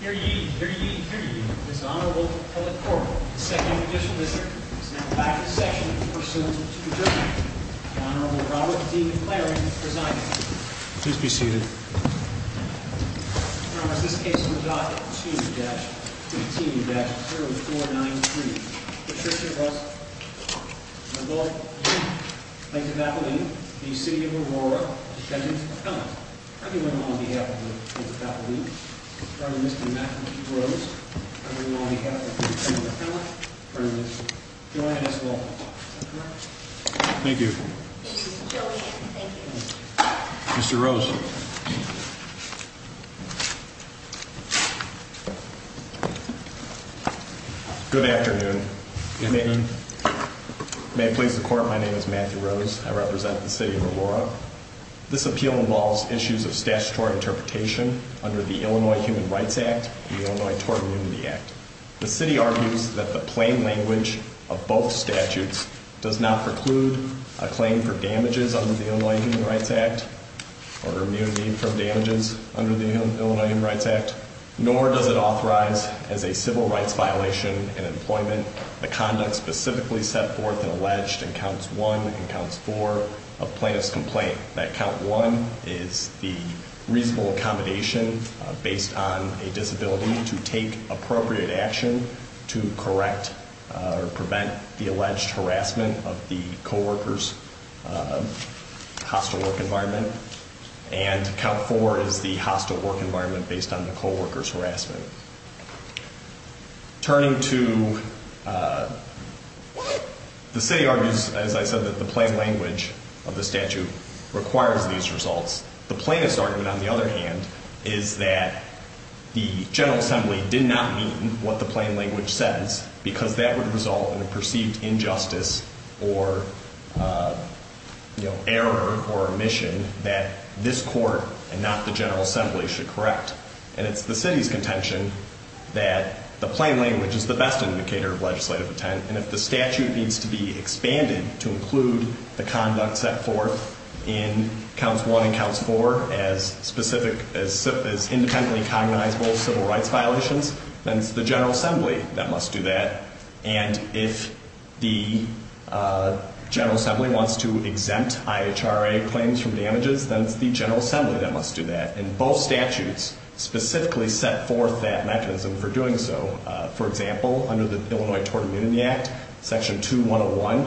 Here ye, here ye, here ye, this Honorable Philip Corbett, 2nd Judicial District, is now back in session for pursuant to adjournment. The Honorable Robert D. McLaren, presiding. Please be seated. I promise this case will be docked at 2-15-0493. Patricia Russell. Honorable Mr. McAleen, the City of Aurora Detention Center. Everyone on behalf of Mr. McAleen, Mr. McAleen, Mr. Rose, everyone on behalf of Mr. Philip, join us in a moment. Mr. Rose. Good afternoon. Good evening. May it please the Court, my name is Matthew Rose. I represent the City of Aurora. This appeal involves issues of statutory interpretation under the Illinois Human Rights Act and the Illinois Tort Immunity Act. The City argues that the plain language of both statutes does not preclude a claim for damages under the Illinois Human Rights Act, or immunity from damages under the Illinois Human Rights Act, nor does it authorize, as a civil rights violation in employment, the conduct specifically set forth and alleged in Counts 1 and Counts 4 of plaintiff's complaint, that Count 1 is the reasonable accommodation based on a disability to take appropriate action to correct or prevent the alleged harassment of the co-worker's hostile work environment, and Count 4 is the hostile work environment based on the co-worker's harassment. Turning to the City argues, as I said, that the plain language of the statute requires these results. The plaintiff's argument, on the other hand, is that the General Assembly did not mean what the plain language says because that would result in a perceived injustice or, you know, error or omission that this Court and not the General Assembly should correct. And it's the City's contention that the plain language is the best indicator of legislative intent, and if the statute needs to be expanded to include the conduct set forth in Counts 1 and Counts 4 as specific as independently cognizable civil rights violations, then it's the General Assembly that must do that. And if the General Assembly wants to exempt IHRA claims from damages, then it's the General Assembly that must do that. And both statutes specifically set forth that mechanism for doing so. For example, under the Illinois Tort Immunity Act, Section 2101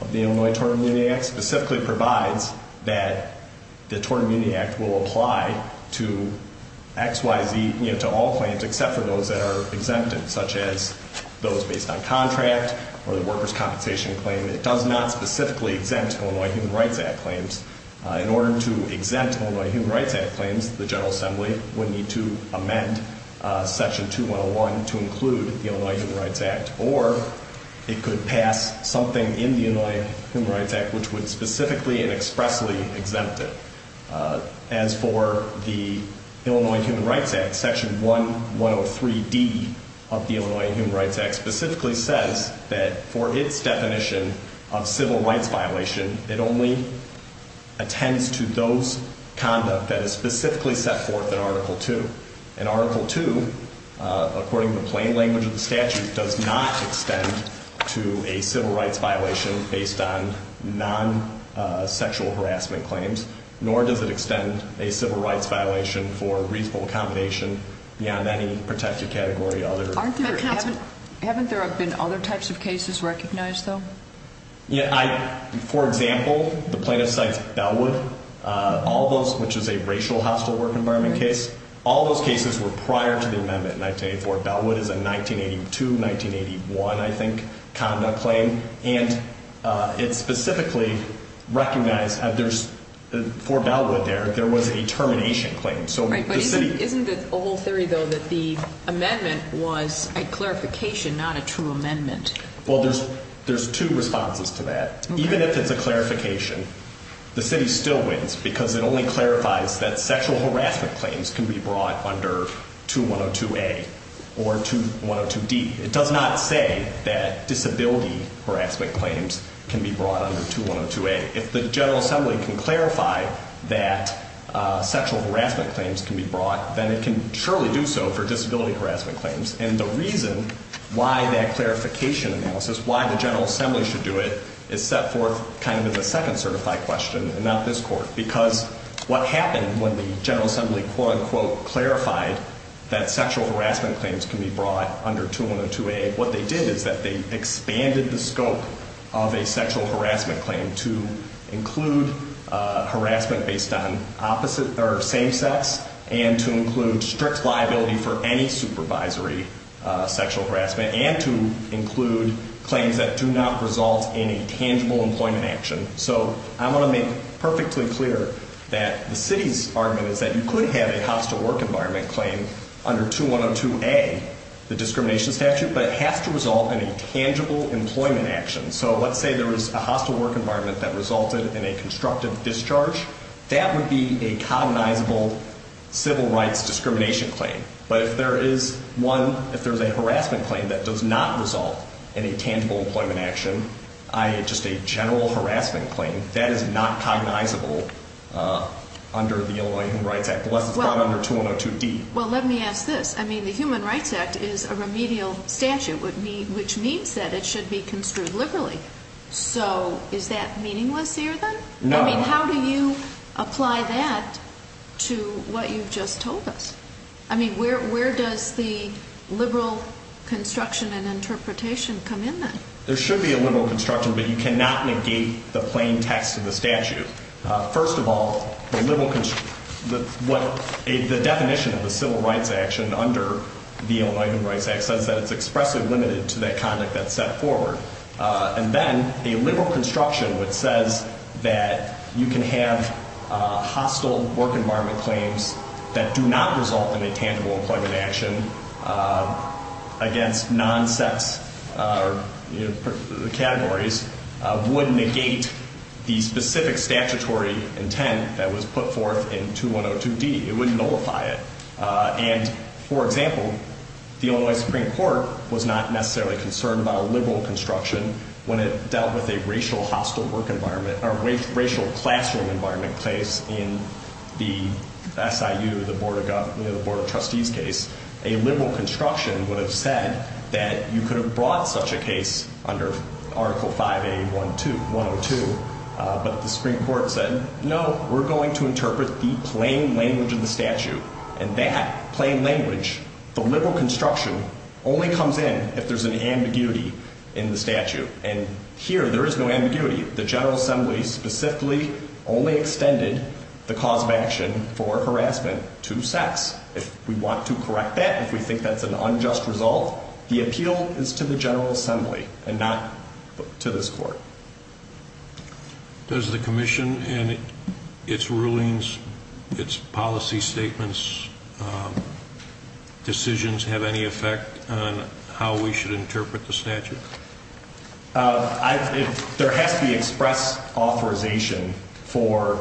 of the Illinois Tort Immunity Act specifically provides that the Tort Immunity Act will apply to X, Y, Z, you know, to all claims except for those that are exempted, such as those based on contract or the workers' compensation claim. It does not specifically exempt Illinois Human Rights Act claims. In order to exempt Illinois Human Rights Act claims, the General Assembly would need to amend Section 2101 to include the Illinois Human Rights Act, or it could pass something in the Illinois Human Rights Act which would specifically and expressly exempt it. As for the Illinois Human Rights Act, Section 1103D of the Illinois Human Rights Act specifically says that for its definition of civil rights violation, it only attends to those conduct that is specifically set forth in Article II. And Article II, according to the plain language of the statute, does not extend to a civil rights violation based on non-sexual harassment claims, nor does it extend a civil rights violation for reasonable accommodation beyond any protected category or other. Haven't there been other types of cases recognized, though? For example, the plaintiff cites Bellwood, which is a racial hostile work environment case. All those cases were prior to the amendment in 1984. Bellwood is a 1982-1981, I think, conduct claim. And it specifically recognized for Bellwood there, there was a termination claim. Right, but isn't the whole theory, though, that the amendment was a clarification, not a true amendment? Well, there's two responses to that. Even if it's a clarification, the city still wins because it only clarifies that sexual harassment claims can be brought under 2102A or 2102D. It does not say that disability harassment claims can be brought under 2102A. If the General Assembly can clarify that sexual harassment claims can be brought, then it can surely do so for disability harassment claims. And the reason why that clarification analysis, why the General Assembly should do it, is set forth kind of in the second certified question and not this Court. Because what happened when the General Assembly quote-unquote clarified that sexual harassment claims can be brought under 2102A, what they did is that they expanded the scope of a sexual harassment claim to include harassment based on opposite or same sex and to include strict liability for any supervisory sexual harassment and to include claims that do not result in a tangible employment action. So I want to make perfectly clear that the city's argument is that you could have a hostile work environment claim under 2102A, the discrimination statute, but it has to result in a tangible employment action. So let's say there was a hostile work environment that resulted in a constructive discharge, that would be a cognizable civil rights discrimination claim. But if there is one, if there's a harassment claim that does not result in a tangible employment action, i.e. just a general harassment claim, that is not cognizable under the Illinois Human Rights Act, unless it's brought under 2102D. Well, let me ask this. I mean, the Human Rights Act is a remedial statute, which means that it should be construed liberally. So is that meaningless here then? No. I mean, how do you apply that to what you've just told us? I mean, where does the liberal construction and interpretation come in then? There should be a liberal construction, but you cannot negate the plain text of the statute. First of all, the definition of the civil rights action under the Illinois Human Rights Act says that it's expressly limited to that conduct that's set forward. And then a liberal construction which says that you can have hostile work environment claims that do not result in a tangible employment action against non-sex categories would negate the specific statutory intent that was put forth in 2102D. It would nullify it. And, for example, the Illinois Supreme Court was not necessarily concerned about a liberal construction when it dealt with a racial classroom environment case in the SIU, the Board of Trustees case. A liberal construction would have said that you could have brought such a case under Article 5A-102, but the Supreme Court said, no, we're going to interpret the plain language of the statute. And that plain language, the liberal construction, only comes in if there's an ambiguity in the statute. And here there is no ambiguity. The General Assembly specifically only extended the cause of action for harassment to sex, if we want to correct that, if we think that's an unjust result. The appeal is to the General Assembly and not to this court. Does the commission and its rulings, its policy statements, decisions, have any effect on how we should interpret the statute? There has to be express authorization for,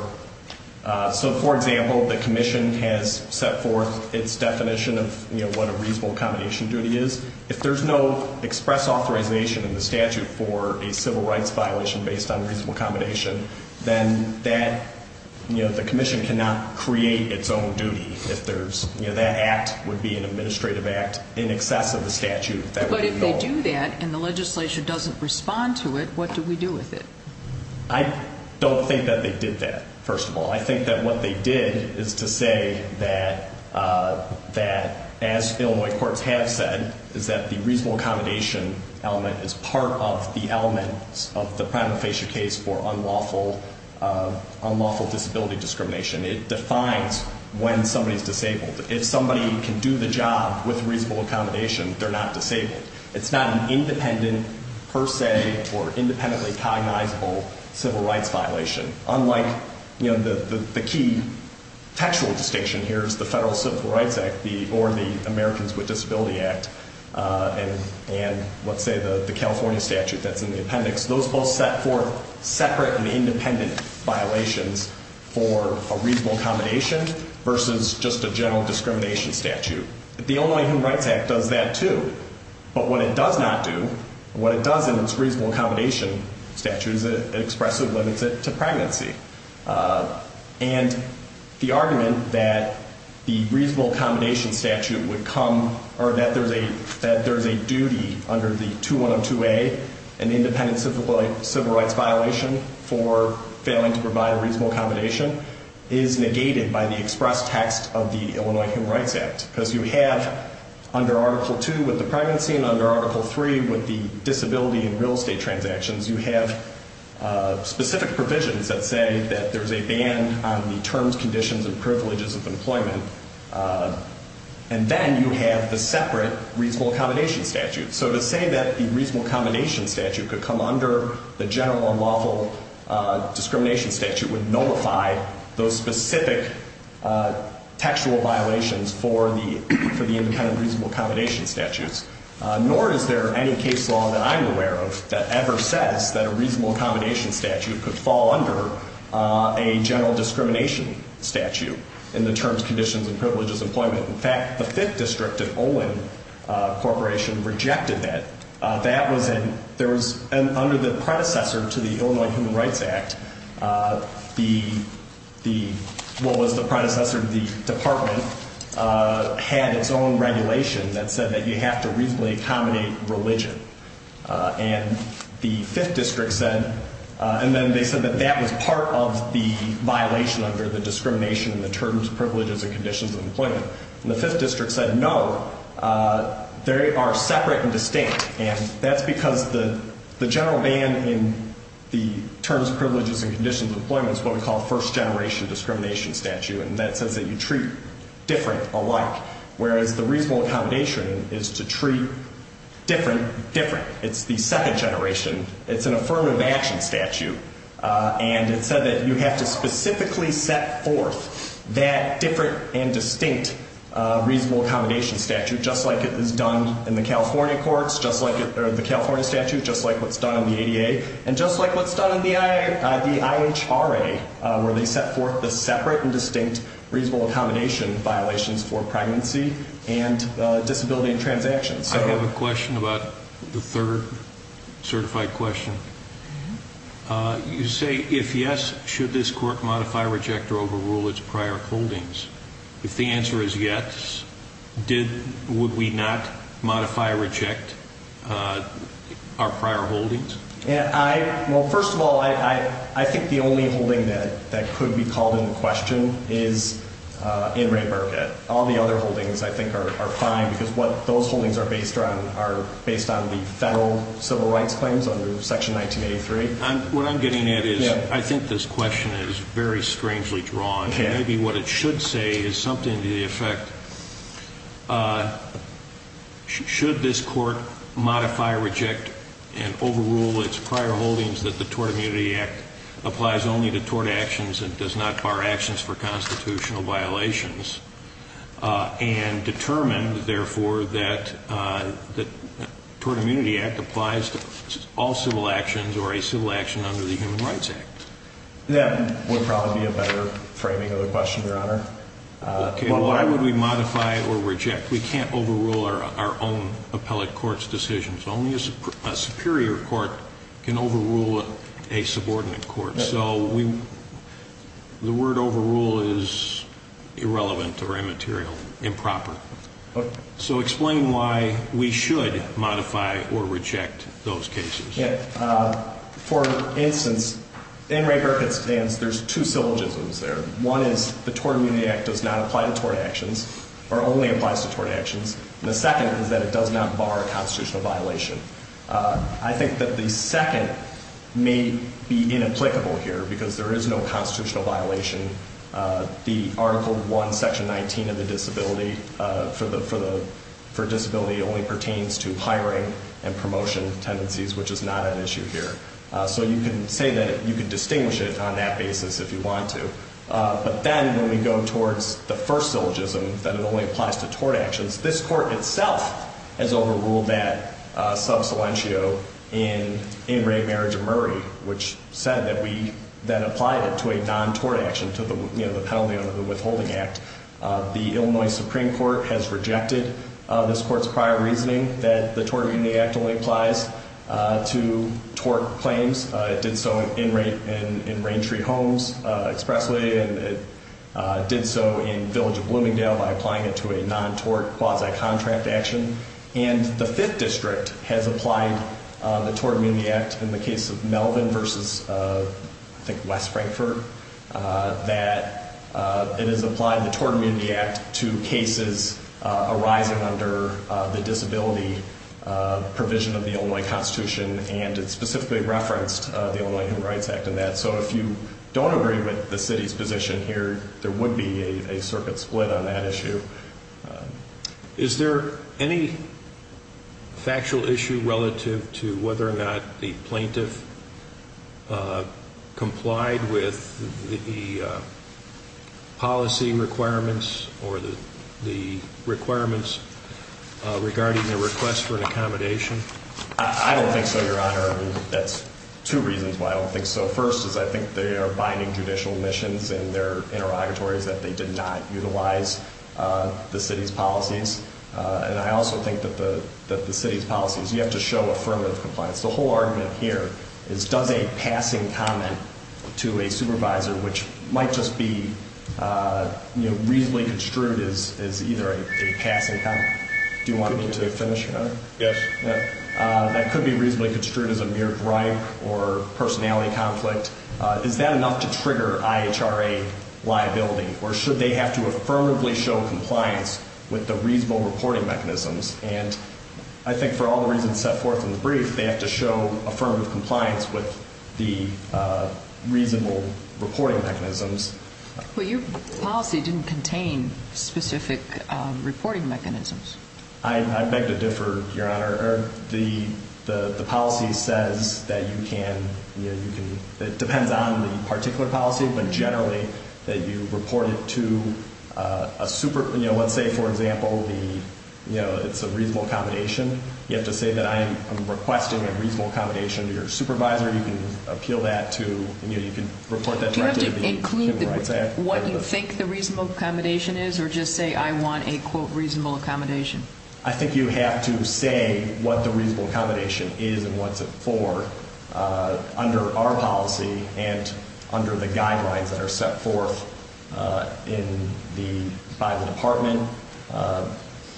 so, for example, the commission has set forth its definition of, you know, what a reasonable accommodation duty is. If there's no express authorization in the statute for a civil rights violation based on reasonable accommodation, then that, you know, the commission cannot create its own duty if there's, you know, that act would be an administrative act in excess of the statute that would be null. But if they do that and the legislature doesn't respond to it, what do we do with it? I don't think that they did that, first of all. I think that what they did is to say that, as Illinois courts have said, is that the reasonable accommodation element is part of the element of the primal facial case for unlawful disability discrimination. It defines when somebody is disabled. If somebody can do the job with reasonable accommodation, they're not disabled. It's not an independent per se or independently cognizable civil rights violation. Unlike, you know, the key textual distinction here is the Federal Civil Rights Act or the Americans with Disability Act and, let's say, the California statute that's in the appendix. Those both set forth separate and independent violations for a reasonable accommodation versus just a general discrimination statute. The Illinois Human Rights Act does that, too. But what it does not do, what it does in its reasonable accommodation statute is it expressively limits it to pregnancy. And the argument that the reasonable accommodation statute would come or that there's a duty under the 2102A, an independent civil rights violation for failing to provide a reasonable accommodation, is negated by the express text of the Illinois Human Rights Act. Because you have under Article II with the pregnancy and under Article III with the disability and real estate transactions, you have specific provisions that say that there's a ban on the terms, conditions, and privileges of employment. And then you have the separate reasonable accommodation statute. So to say that the reasonable accommodation statute could come under the general unlawful discrimination statute would nullify those specific textual violations for the independent reasonable accommodation statutes. Nor is there any case law that I'm aware of that ever says that a reasonable accommodation statute could fall under a general discrimination statute in the terms, conditions, and privileges of employment. In fact, the Fifth District of Olin Corporation rejected that. And under the predecessor to the Illinois Human Rights Act, what was the predecessor to the department, had its own regulation that said that you have to reasonably accommodate religion. And then they said that that was part of the violation under the discrimination in the terms, privileges, and conditions of employment. And the Fifth District said no, they are separate and distinct. And that's because the general ban in the terms, privileges, and conditions of employment is what we call first generation discrimination statute. And that says that you treat different alike. Whereas the reasonable accommodation is to treat different, different. It's the second generation. It's an affirmative action statute. And it said that you have to specifically set forth that different and distinct reasonable accommodation statute, just like it is done in the California courts, just like the California statute, just like what's done in the ADA, and just like what's done in the IHRA, where they set forth the separate and distinct reasonable accommodation violations for pregnancy and disability transactions. I have a question about the third certified question. You say, if yes, should this court modify, reject, or overrule its prior holdings? If the answer is yes, would we not modify or reject our prior holdings? Well, first of all, I think the only holding that could be called into question is Anne Ray Burkett. All the other holdings, I think, are fine because those holdings are based on the federal civil rights claims under Section 1983. What I'm getting at is I think this question is very strangely drawn. Maybe what it should say is something to the effect, should this court modify, reject, and overrule its prior holdings that the Tort Immunity Act applies only to tort actions and does not bar actions for constitutional violations, and determine, therefore, that the Tort Immunity Act applies to all civil actions or a civil action under the Human Rights Act. That would probably be a better framing of the question, Your Honor. Why would we modify or reject? We can't overrule our own appellate court's decisions. Only a superior court can overrule a subordinate court. So the word overrule is irrelevant or immaterial, improper. So explain why we should modify or reject those cases. For instance, Anne Ray Burkett's stance, there's two syllogisms there. One is the Tort Immunity Act does not apply to tort actions or only applies to tort actions, and the second is that it does not bar a constitutional violation. I think that the second may be inapplicable here because there is no constitutional violation. The Article 1, Section 19 of the Disability for Disability only pertains to hiring and promotion tendencies, which is not an issue here. So you can say that you can distinguish it on that basis if you want to. But then when we go towards the first syllogism, that it only applies to tort actions, this court itself has overruled that sub salientio in Anne Ray, Marriage, and Murray, which said that we then applied it to a non-tort action, to the penalty under the Withholding Act. The Illinois Supreme Court has rejected this court's prior reasoning that the Tort Immunity Act only applies to tort claims. It did so in Raintree Homes expressly, and it did so in Village of Bloomingdale by applying it to a non-tort quasi-contract action. And the Fifth District has applied the Tort Immunity Act in the case of Melvin versus, I think, West Frankfort, that it has applied the Tort Immunity Act to cases arising under the disability provision of the Illinois Constitution, and it specifically referenced the Illinois Human Rights Act in that. So if you don't agree with the city's position here, there would be a circuit split on that issue. Is there any factual issue relative to whether or not the plaintiff complied with the policy requirements or the requirements regarding the request for an accommodation? I don't think so, Your Honor. That's two reasons why I don't think so. First is I think they are binding judicial missions in their interrogatories that they did not utilize the city's policies. And I also think that the city's policies, you have to show affirmative compliance. The whole argument here is does a passing comment to a supervisor, which might just be reasonably construed as either a passing comment. Do you want me to finish, Your Honor? Yes. That could be reasonably construed as a mere gripe or personality conflict. Is that enough to trigger IHRA liability, or should they have to affirmatively show compliance with the reasonable reporting mechanisms? And I think for all the reasons set forth in the brief, they have to show affirmative compliance with the reasonable reporting mechanisms. Well, your policy didn't contain specific reporting mechanisms. I beg to differ, Your Honor. The policy says that you can – it depends on the particular policy, but generally that you report it to a – let's say, for example, it's a reasonable accommodation. You have to say that I am requesting a reasonable accommodation to your supervisor. You can appeal that to – you can report that directly to the Human Rights Act. Do you have to include what you think the reasonable accommodation is or just say I want a, quote, reasonable accommodation? I think you have to say what the reasonable accommodation is and what it's for under our policy and under the guidelines that are set forth by the Department.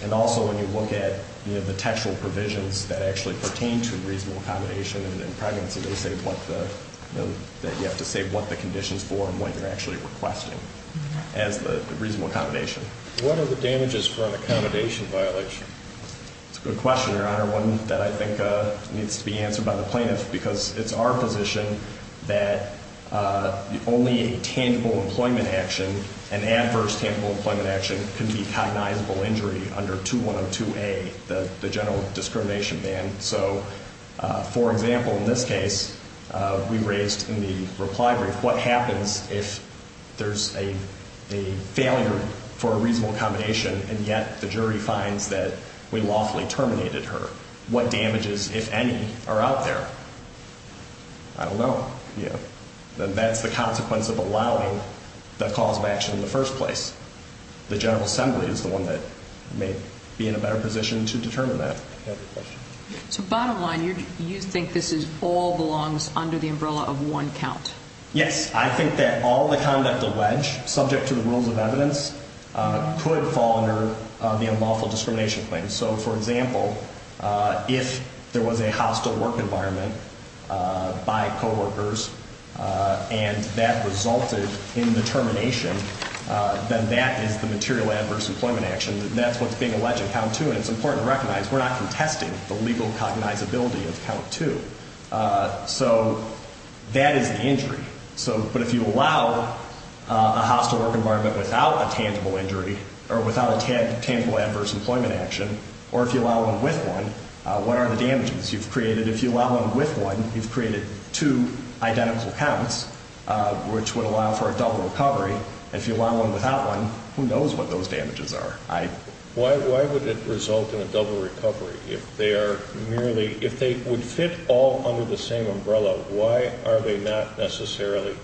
And also when you look at the textual provisions that actually pertain to reasonable accommodation and pregnancy, they say what the – that you have to say what the condition is for and what you're actually requesting as the reasonable accommodation. What are the damages for an accommodation violation? It's a good question, Your Honor, one that I think needs to be answered by the plaintiff because it's our position that only a tangible employment action, an adverse tangible employment action can be cognizable injury under 2102A, the general discrimination ban. So, for example, in this case, we raised in the reply brief, what happens if there's a failure for a reasonable accommodation and yet the jury finds that we lawfully terminated her? What damages, if any, are out there? I don't know. That's the consequence of allowing the cause of action in the first place. The General Assembly is the one that may be in a better position to determine that. So, bottom line, you think this all belongs under the umbrella of one count? Yes. I think that all the conduct alleged subject to the rules of evidence could fall under the unlawful discrimination claim. So, for example, if there was a hostile work environment by coworkers and that resulted in the termination, then that is the material adverse employment action. That's what's being alleged in count two, and it's important to recognize we're not contesting the legal cognizability of count two. So, that is the injury. But if you allow a hostile work environment without a tangible injury or without a tangible adverse employment action, or if you allow one with one, what are the damages you've created? If you allow one with one, you've created two identical counts, which would allow for a double recovery. If you allow one without one, who knows what those damages are? Why would it result in a double recovery if they are merely, if they would fit all under the same umbrella, why are they not necessarily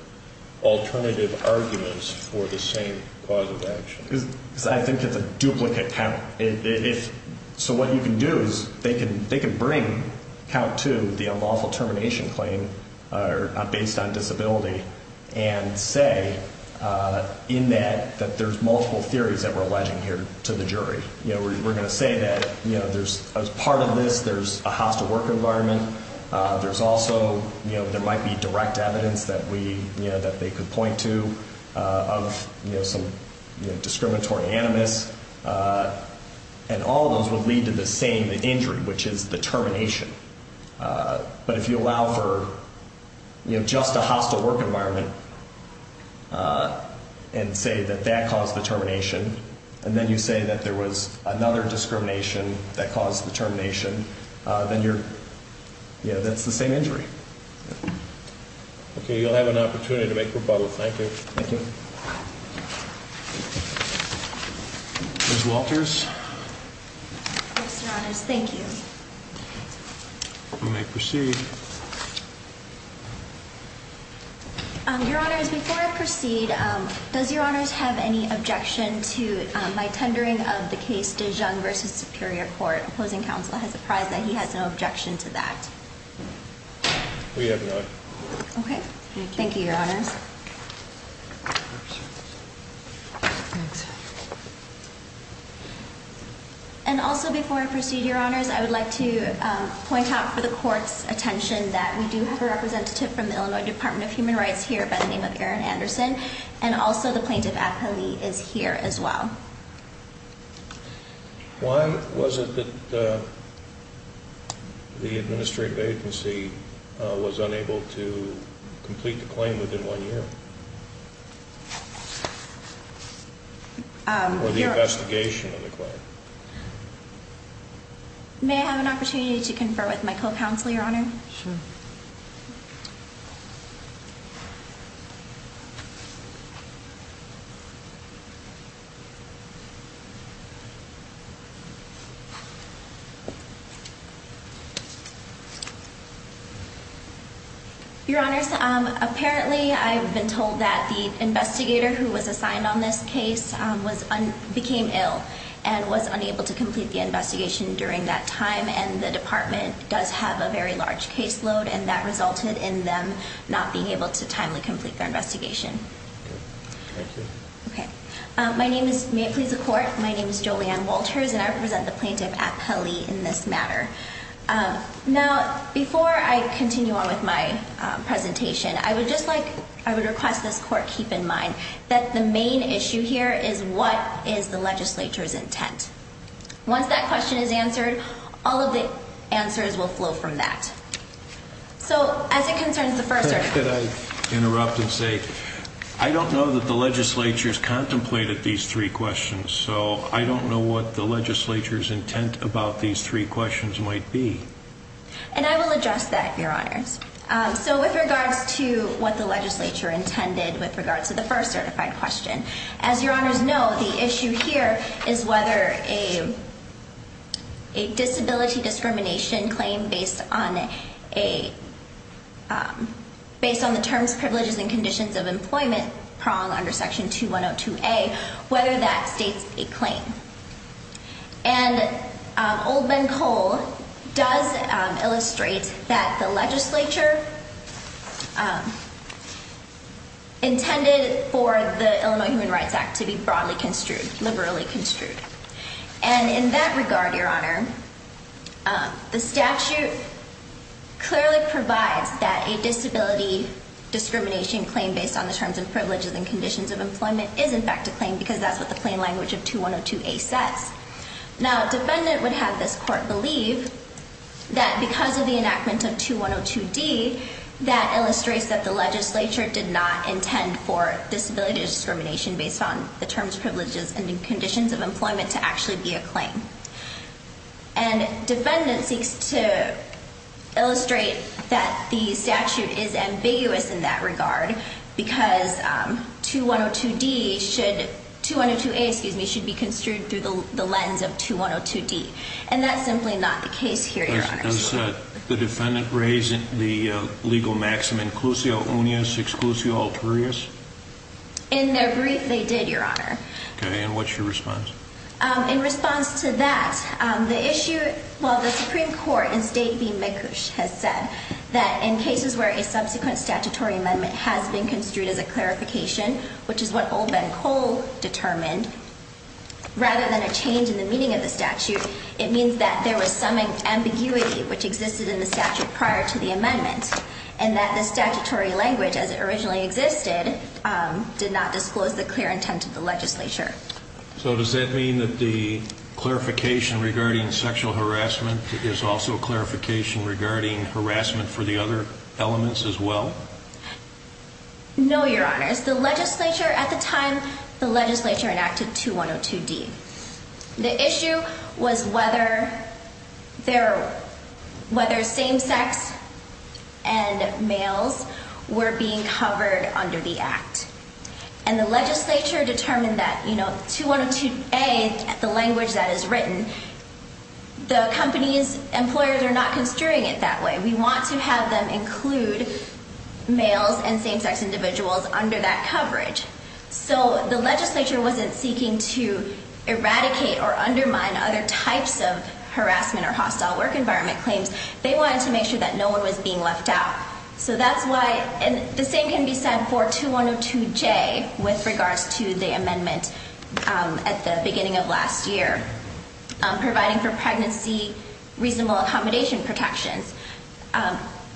alternative arguments for the same cause of action? Because I think it's a duplicate count. So, what you can do is they can bring count two, the unlawful termination claim, based on disability, and say in that that there's multiple theories that we're alleging here to the jury. We're going to say that there's part of this, there's a hostile work environment. There's also, there might be direct evidence that they could point to of some discriminatory animus, and all of those would lead to the same injury, which is the termination. But if you allow for just a hostile work environment and say that that caused the termination, and then you say that there was another discrimination that caused the termination, then you're, you know, that's the same injury. Okay, you'll have an opportunity to make rebuttal. Thank you. Thank you. Ms. Walters? Yes, Your Honors. Thank you. You may proceed. Your Honors, before I proceed, does Your Honors have any objection to my tendering of the case de Jung v. Superior Court? Opposing counsel has apprised that he has no objection to that. We have none. Okay. Thank you, Your Honors. And also, before I proceed, Your Honors, I would like to point out for the Court's attention that we do have a representative from the Illinois Department of Human Rights here by the name of Erin Anderson, and also the plaintiff, Appali, is here as well. Why was it that the administrative agency was unable to complete the claim within one year? Or the investigation of the claim? May I have an opportunity to confer with my co-counsel, Your Honor? Sure. Thank you. Your Honors, apparently I've been told that the investigator who was assigned on this case became ill and was unable to complete the investigation during that time, and the Department does have a very large caseload, and that resulted in them not being able to timely complete their investigation. Okay. Thank you. Okay. May it please the Court, my name is Joanne Walters, and I represent the plaintiff, Appali, in this matter. Now, before I continue on with my presentation, I would just like, I would request this Court keep in mind that the main issue here is what is the legislature's intent. Once that question is answered, all of the answers will flow from that. So, as it concerns the first... Could I interrupt and say, I don't know that the legislature has contemplated these three questions, so I don't know what the legislature's intent about these three questions might be. And I will address that, Your Honors. So, with regards to what the legislature intended with regards to the first certified question, as Your Honors know, the issue here is whether a disability discrimination claim based on the terms, privileges, and conditions of employment prong under Section 2102A, whether that states a claim. And Oldman Cole does illustrate that the legislature intended for the Illinois Human Rights Act to be broadly construed, liberally construed. And in that regard, Your Honor, the statute clearly provides that a disability discrimination claim based on the terms and privileges and conditions of employment is in fact a claim because that's what the plain language of 2102A says. Now, a defendant would have this Court believe that because of the enactment of 2102D, that illustrates that the legislature did not intend for disability discrimination based on the terms, privileges, and conditions of employment to actually be a claim. And defendant seeks to illustrate that the statute is ambiguous in that regard because 2102D should, 2102A, excuse me, should be construed through the lens of 2102D. And that's simply not the case here, Your Honors. Does the defendant raise the legal maxim, inclusio unius, exclusio alterius? In their brief, they did, Your Honor. Okay, and what's your response? In response to that, the issue, well, the Supreme Court in State v. McCush has said that in cases where a subsequent statutory amendment has been construed as a clarification, which is what Oldman Cole determined, rather than a change in the meaning of the statute, it means that there was some ambiguity which existed in the statute prior to the amendment and that the statutory language as it originally existed did not disclose the clear intent of the legislature. So does that mean that the clarification regarding sexual harassment is also a clarification regarding harassment for the other elements as well? No, Your Honors. The legislature at the time, the legislature enacted 2102D. The issue was whether same-sex and males were being covered under the act. And the legislature determined that, you know, 2102A, the language that is written, the company's employers are not construing it that way. We want to have them include males and same-sex individuals under that coverage. So the legislature wasn't seeking to eradicate or undermine other types of harassment or hostile work environment claims. They wanted to make sure that no one was being left out. So that's why, and the same can be said for 2102J with regards to the amendment at the beginning of last year, providing for pregnancy reasonable accommodation protections.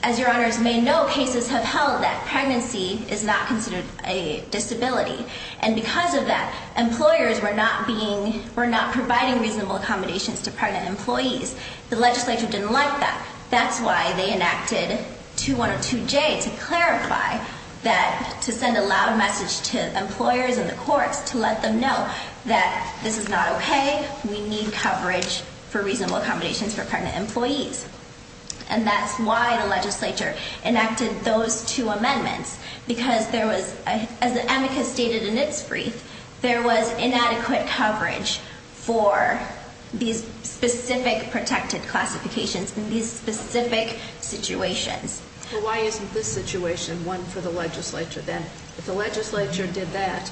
As Your Honors may know, cases have held that pregnancy is not considered a disability. And because of that, employers were not being, were not providing reasonable accommodations to pregnant employees. The legislature didn't like that. That's why they enacted 2102J to clarify that, to send a loud message to employers and the courts to let them know that this is not okay. We need coverage for reasonable accommodations for pregnant employees. And that's why the legislature enacted those two amendments. Because there was, as the amicus stated in its brief, there was inadequate coverage for these specific protected classifications in these specific situations. Well, why isn't this situation one for the legislature then? If the legislature did that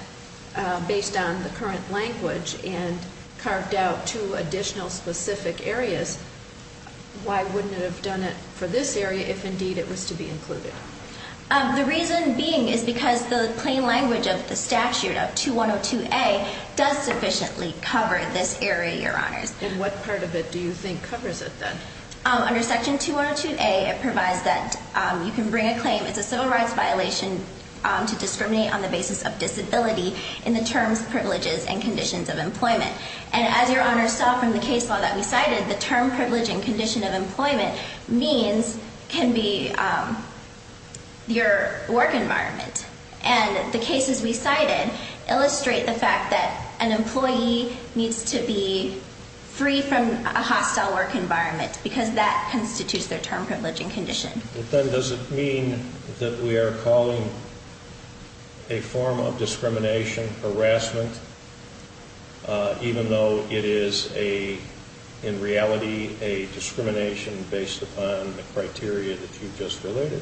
based on the current language and carved out two additional specific areas, why wouldn't it have done it for this area if indeed it was to be included? The reason being is because the plain language of the statute of 2102A does sufficiently cover this area, Your Honors. And what part of it do you think covers it then? Under Section 2102A, it provides that you can bring a claim, it's a civil rights violation to discriminate on the basis of disability in the terms, privileges, and conditions of employment. And as Your Honors saw from the case law that we cited, the term, privilege, and condition of employment means can be your work environment. And the cases we cited illustrate the fact that an employee needs to be free from a hostile work environment because that constitutes their term, privilege, and condition. But then does it mean that we are calling a form of discrimination, harassment, even though it is in reality a discrimination based upon the criteria that you just related?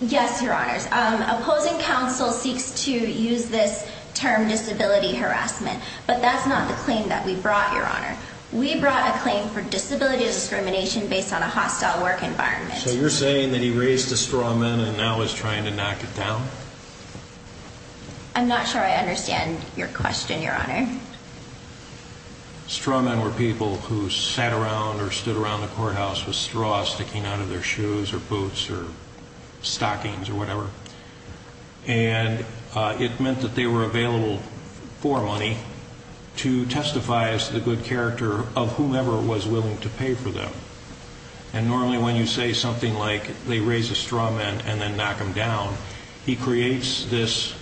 Yes, Your Honors. Opposing counsel seeks to use this term, disability harassment, but that's not the claim that we brought, Your Honor. We brought a claim for disability discrimination based on a hostile work environment. So you're saying that he raised a straw man and now is trying to knock it down? I'm not sure I understand your question, Your Honor. Straw men were people who sat around or stood around the courthouse with straw sticking out of their shoes or boots or stockings or whatever. And it meant that they were available for money to testify as to the good character of whomever was willing to pay for them. And normally when you say something like they raise a straw man and then knock him down, he creates this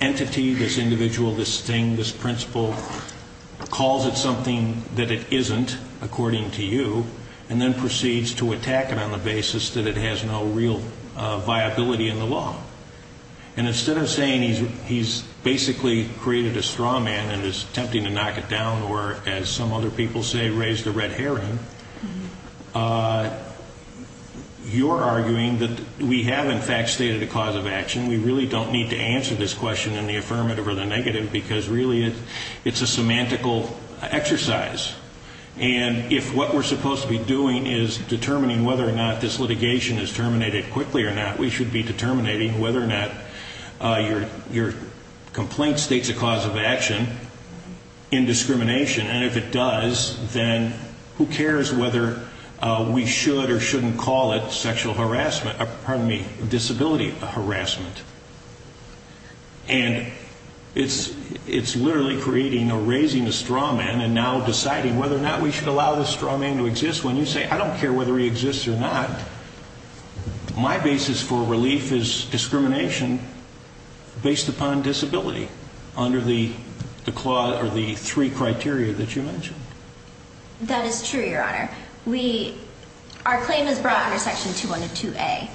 entity, this individual, this thing, this principle, calls it something that it isn't, according to you, and then proceeds to attack it on the basis that it has no real viability in the law. And instead of saying he's basically created a straw man and is attempting to knock it down or, as some other people say, raised a red herring, you're arguing that we have, in fact, stated a cause of action. We really don't need to answer this question in the affirmative or the negative because really it's a semantical exercise. And if what we're supposed to be doing is determining whether or not this litigation is terminated quickly or not, we should be determining whether or not your complaint states a cause of action in discrimination. And if it does, then who cares whether we should or shouldn't call it sexual harassment, pardon me, disability harassment. And it's literally creating or raising a straw man and now deciding whether or not we should allow this straw man to exist. When you say I don't care whether he exists or not, my basis for relief is discrimination based upon disability under the three criteria that you mentioned. That is true, Your Honor. Our claim is brought under Section 2102A.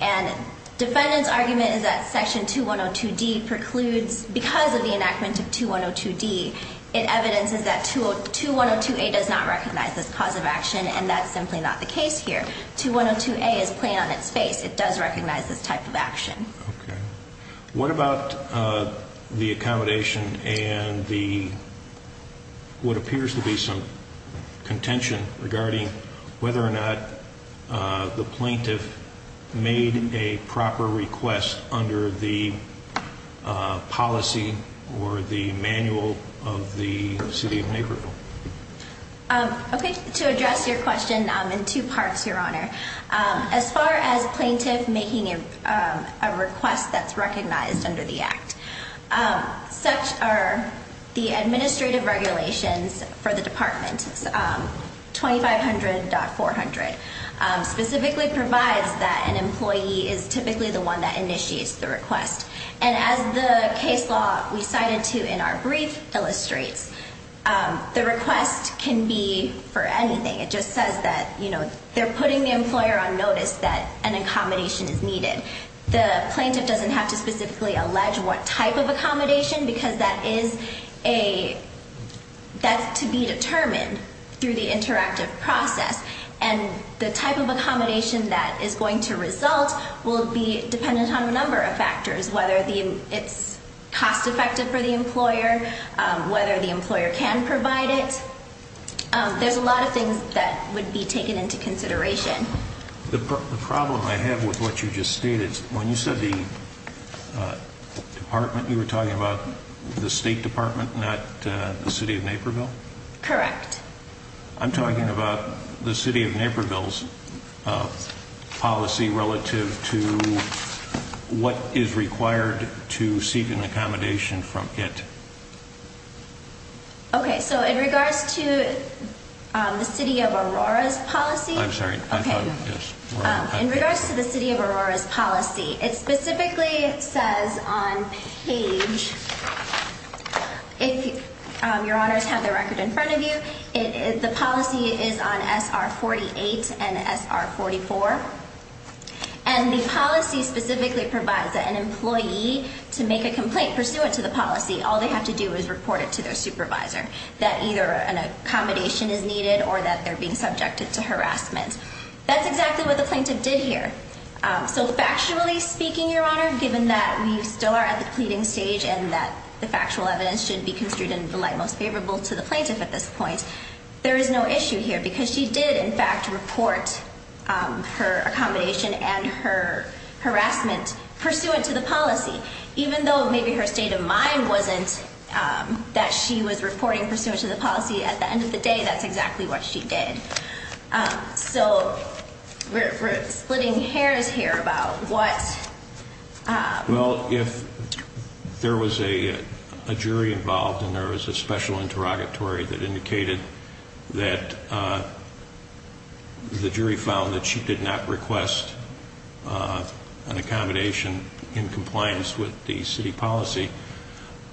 And defendant's argument is that Section 2102D precludes, because of the enactment of 2102D, it evidences that 2102A does not recognize this cause of action, and that's simply not the case here. 2102A is plain on its face. It does recognize this type of action. What about the accommodation and what appears to be some contention regarding whether or not the plaintiff made a proper request under the policy or the manual of the city of Naperville? To address your question in two parts, Your Honor, as far as plaintiff making a request that's recognized under the Act, such are the administrative regulations for the department, 2500.400 specifically provides that an employee is typically the one that initiates the request. And as the case law we cited to in our brief illustrates, the request can be for anything. It just says that they're putting the employer on notice that an accommodation is needed. The plaintiff doesn't have to specifically allege what type of accommodation because that's to be determined through the interactive process. And the type of accommodation that is going to result will be dependent on a number of factors, whether it's cost-effective for the employer, whether the employer can provide it. There's a lot of things that would be taken into consideration. The problem I have with what you just stated, when you said the department, you were talking about the State Department, not the city of Naperville? Correct. I'm talking about the city of Naperville's policy relative to what is required to seek an accommodation from it. Okay, so in regards to the city of Aurora's policy. I'm sorry. In regards to the city of Aurora's policy, it specifically says on page, if your honors have the record in front of you, the policy is on SR-48 and SR-44. And the policy specifically provides that an employee, to make a complaint pursuant to the policy, all they have to do is report it to their supervisor, that either an accommodation is needed or that they're being subjected to harassment. That's exactly what the plaintiff did here. So factually speaking, your honor, given that we still are at the pleading stage and that the factual evidence should be construed in the light most favorable to the plaintiff at this point, there is no issue here because she did, in fact, report her accommodation and her harassment pursuant to the policy. Even though maybe her state of mind wasn't that she was reporting pursuant to the policy at the end of the day, that's exactly what she did. So we're splitting hairs here about what... Well, if there was a jury involved and there was a special interrogatory that indicated that the jury found that she did not request an accommodation in compliance with the city policy,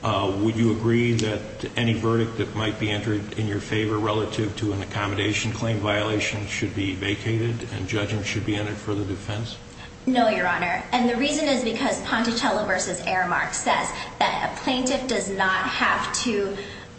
would you agree that any verdict that might be entered in your favor relative to an accommodation claim violation should be vacated and judgment should be entered for the defense? No, your honor. And the reason is because Ponticello v. Aramark says that a plaintiff does not have to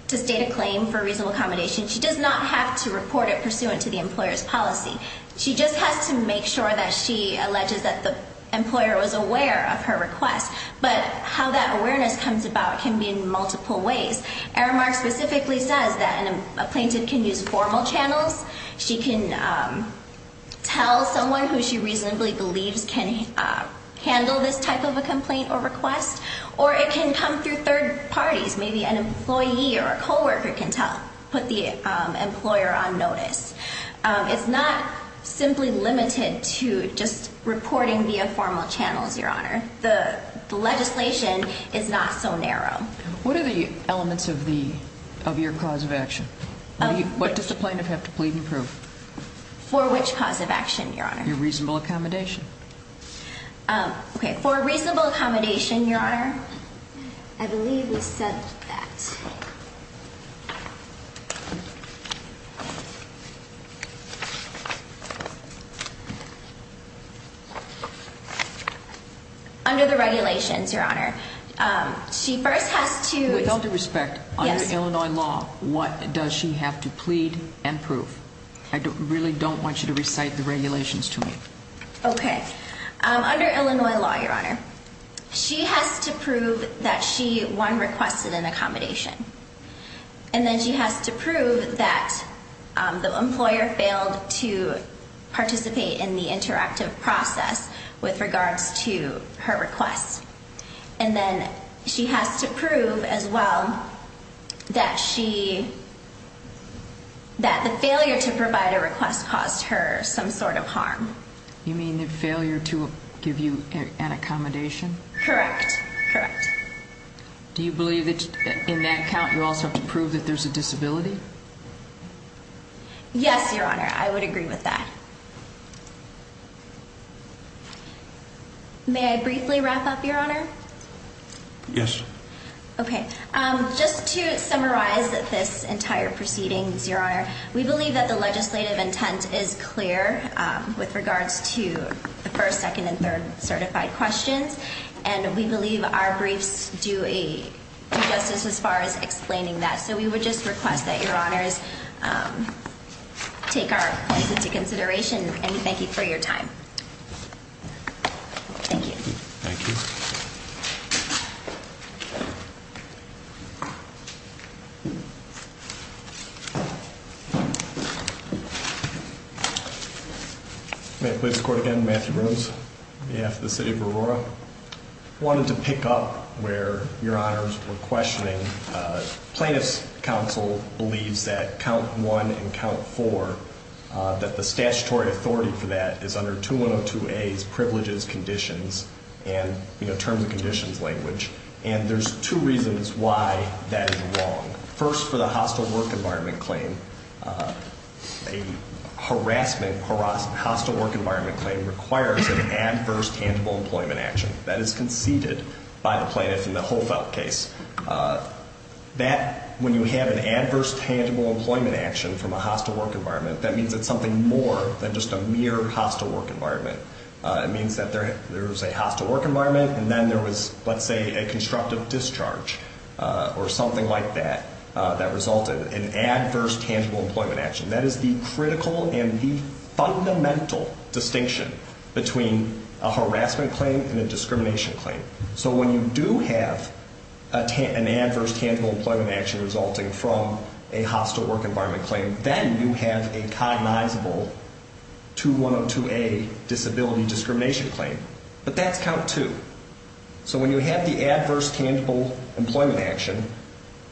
state a claim for reasonable accommodation. She does not have to report it pursuant to the employer's policy. She just has to make sure that she alleges that the employer was aware of her request. But how that awareness comes about can be in multiple ways. Aramark specifically says that a plaintiff can use formal channels. She can tell someone who she reasonably believes can handle this type of a complaint or request, or it can come through third parties. Maybe an employee or a co-worker can put the employer on notice. It's not simply limited to just reporting via formal channels, your honor. The legislation is not so narrow. What are the elements of your cause of action? What does the plaintiff have to plead and prove? For which cause of action, your honor? Your reasonable accommodation. Okay. For reasonable accommodation, your honor, I believe we said that. Under the regulations, your honor, she first has to With all due respect, under Illinois law, what does she have to plead and prove? I really don't want you to recite the regulations to me. Okay. Under Illinois law, your honor, she has to prove that she, one, requested an accommodation. And then she has to prove that the employer failed to participate in the interactive process with regards to her request. And then she has to prove, as well, that the failure to provide a request caused her some sort of harm. You mean the failure to give you an accommodation? Correct. Correct. Do you believe that in that count, you also have to prove that there's a disability? Yes, your honor. I would agree with that. May I briefly wrap up, your honor? Yes. Okay. Just to summarize this entire proceedings, your honor, we believe that the legislative intent is clear with regards to the first, second, and third certified questions. And we believe our briefs do justice as far as explaining that. So we would just request that your honors take our position into consideration. And we thank you for your time. Thank you. Thank you. May I please record again, Matthew Brooms, on behalf of the city of Aurora. I wanted to pick up where your honors were questioning. Plaintiff's counsel believes that count one and count four, that the statutory authority for that is under 2102A's privileges, conditions, and terms and conditions language. And there's two reasons why that is wrong. First, for the hostile work environment claim, a harassment hostile work environment claim requires an adverse tangible employment action. That is conceded by the plaintiff in the Hohfeldt case. That, when you have an adverse tangible employment action from a hostile work environment, that means it's something more than just a mere hostile work environment. It means that there is a hostile work environment, and then there was, let's say, a constructive discharge or something like that, that resulted in adverse tangible employment action. That is the critical and the fundamental distinction between a harassment claim and a discrimination claim. So when you do have an adverse tangible employment action resulting from a hostile work environment claim, then you have a cognizable 2102A disability discrimination claim. But that's count two. So when you have the adverse tangible employment action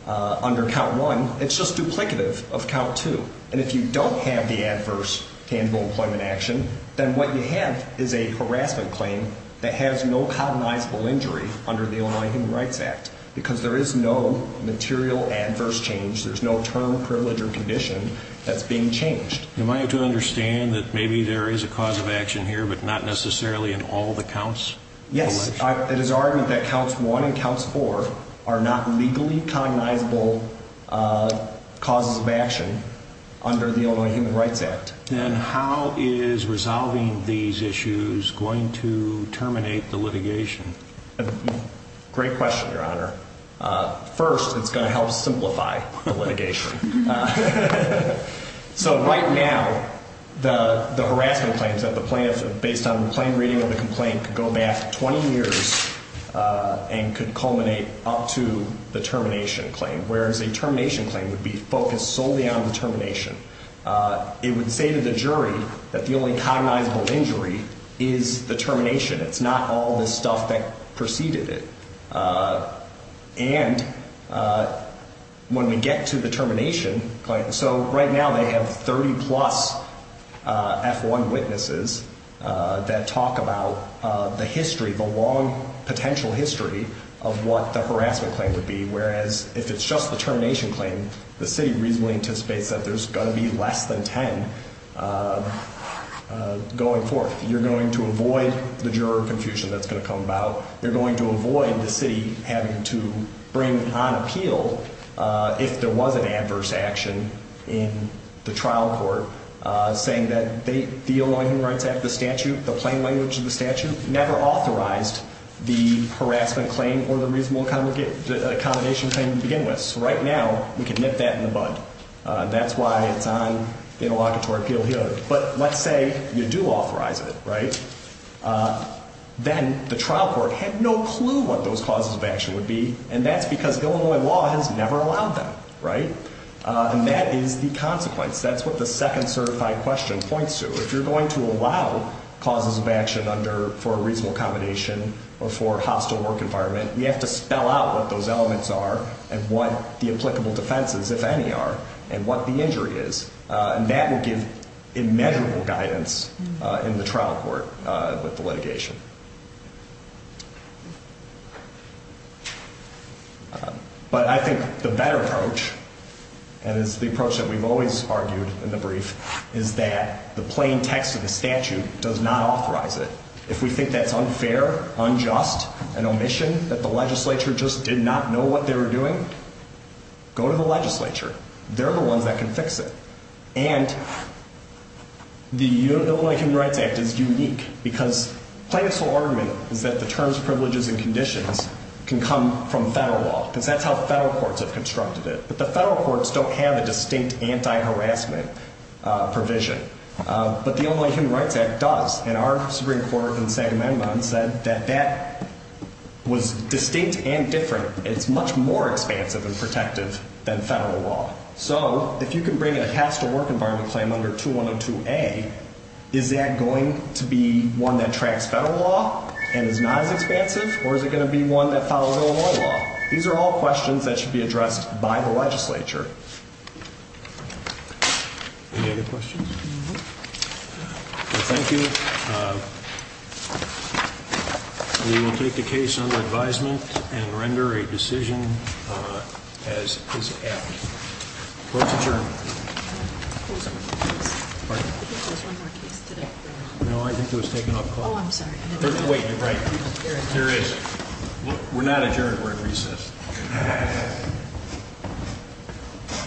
under count one, it's just duplicative of count two. And if you don't have the adverse tangible employment action, then what you have is a harassment claim that has no cognizable injury under the Illinois Human Rights Act. Because there is no material adverse change. There's no term, privilege, or condition that's being changed. Am I to understand that maybe there is a cause of action here, but not necessarily in all the counts? Yes. It is argued that counts one and counts four are not legally cognizable causes of action under the Illinois Human Rights Act. Then how is resolving these issues going to terminate the litigation? Great question, Your Honor. First, it's going to help simplify the litigation. So right now, the harassment claims that the plaintiff, based on the plain reading of the complaint, could go back 20 years and could culminate up to the termination claim. Whereas a termination claim would be focused solely on the termination. It would say to the jury that the only cognizable injury is the termination. It's not all the stuff that preceded it. And when we get to the termination claim, so right now they have 30 plus F1 witnesses that talk about the history, the long potential history, of what the harassment claim would be. Whereas if it's just the termination claim, the city reasonably anticipates that there's going to be less than 10 going forth. You're going to avoid the juror confusion that's going to come about. You're going to avoid the city having to bring on appeal if there was an adverse action in the trial court saying that the Illinois Human Rights Act, the statute, the plain language of the statute, never authorized the harassment claim or the reasonable accommodation claim to begin with. So right now, we can nip that in the bud. That's why it's on the interlocutory appeal here. But let's say you do authorize it, right? Then the trial court had no clue what those causes of action would be, and that's because Illinois law has never allowed them, right? And that is the consequence. That's what the second certified question points to. If you're going to allow causes of action for a reasonable accommodation or for a hostile work environment, you have to spell out what those elements are and what the applicable defenses, if any, are and what the injury is. And that will give immeasurable guidance in the trial court with the litigation. But I think the better approach, and it's the approach that we've always argued in the brief, is that the plain text of the statute does not authorize it. If we think that's unfair, unjust, an omission, that the legislature just did not know what they were doing, go to the legislature. They're the ones that can fix it. And the Illinois Human Rights Act is unique because plain and sole argument is that the terms, privileges, and conditions can come from federal law because that's how federal courts have constructed it. But the federal courts don't have a distinct anti-harassment provision. But the Illinois Human Rights Act does. And our Supreme Court in the Second Amendment said that that was distinct and different. It's much more expansive and protective than federal law. So if you can bring a hostile work environment claim under 2102A, is that going to be one that tracks federal law and is not as expansive? Or is it going to be one that follows Illinois law? Sure. Any other questions? No. Well, thank you. We will take the case under advisement and render a decision as is apt. Closed adjournment. I think there was one more case today. No, I think it was taken up. Oh, I'm sorry. There is. We're not adjourned. We're at recess. Thank you.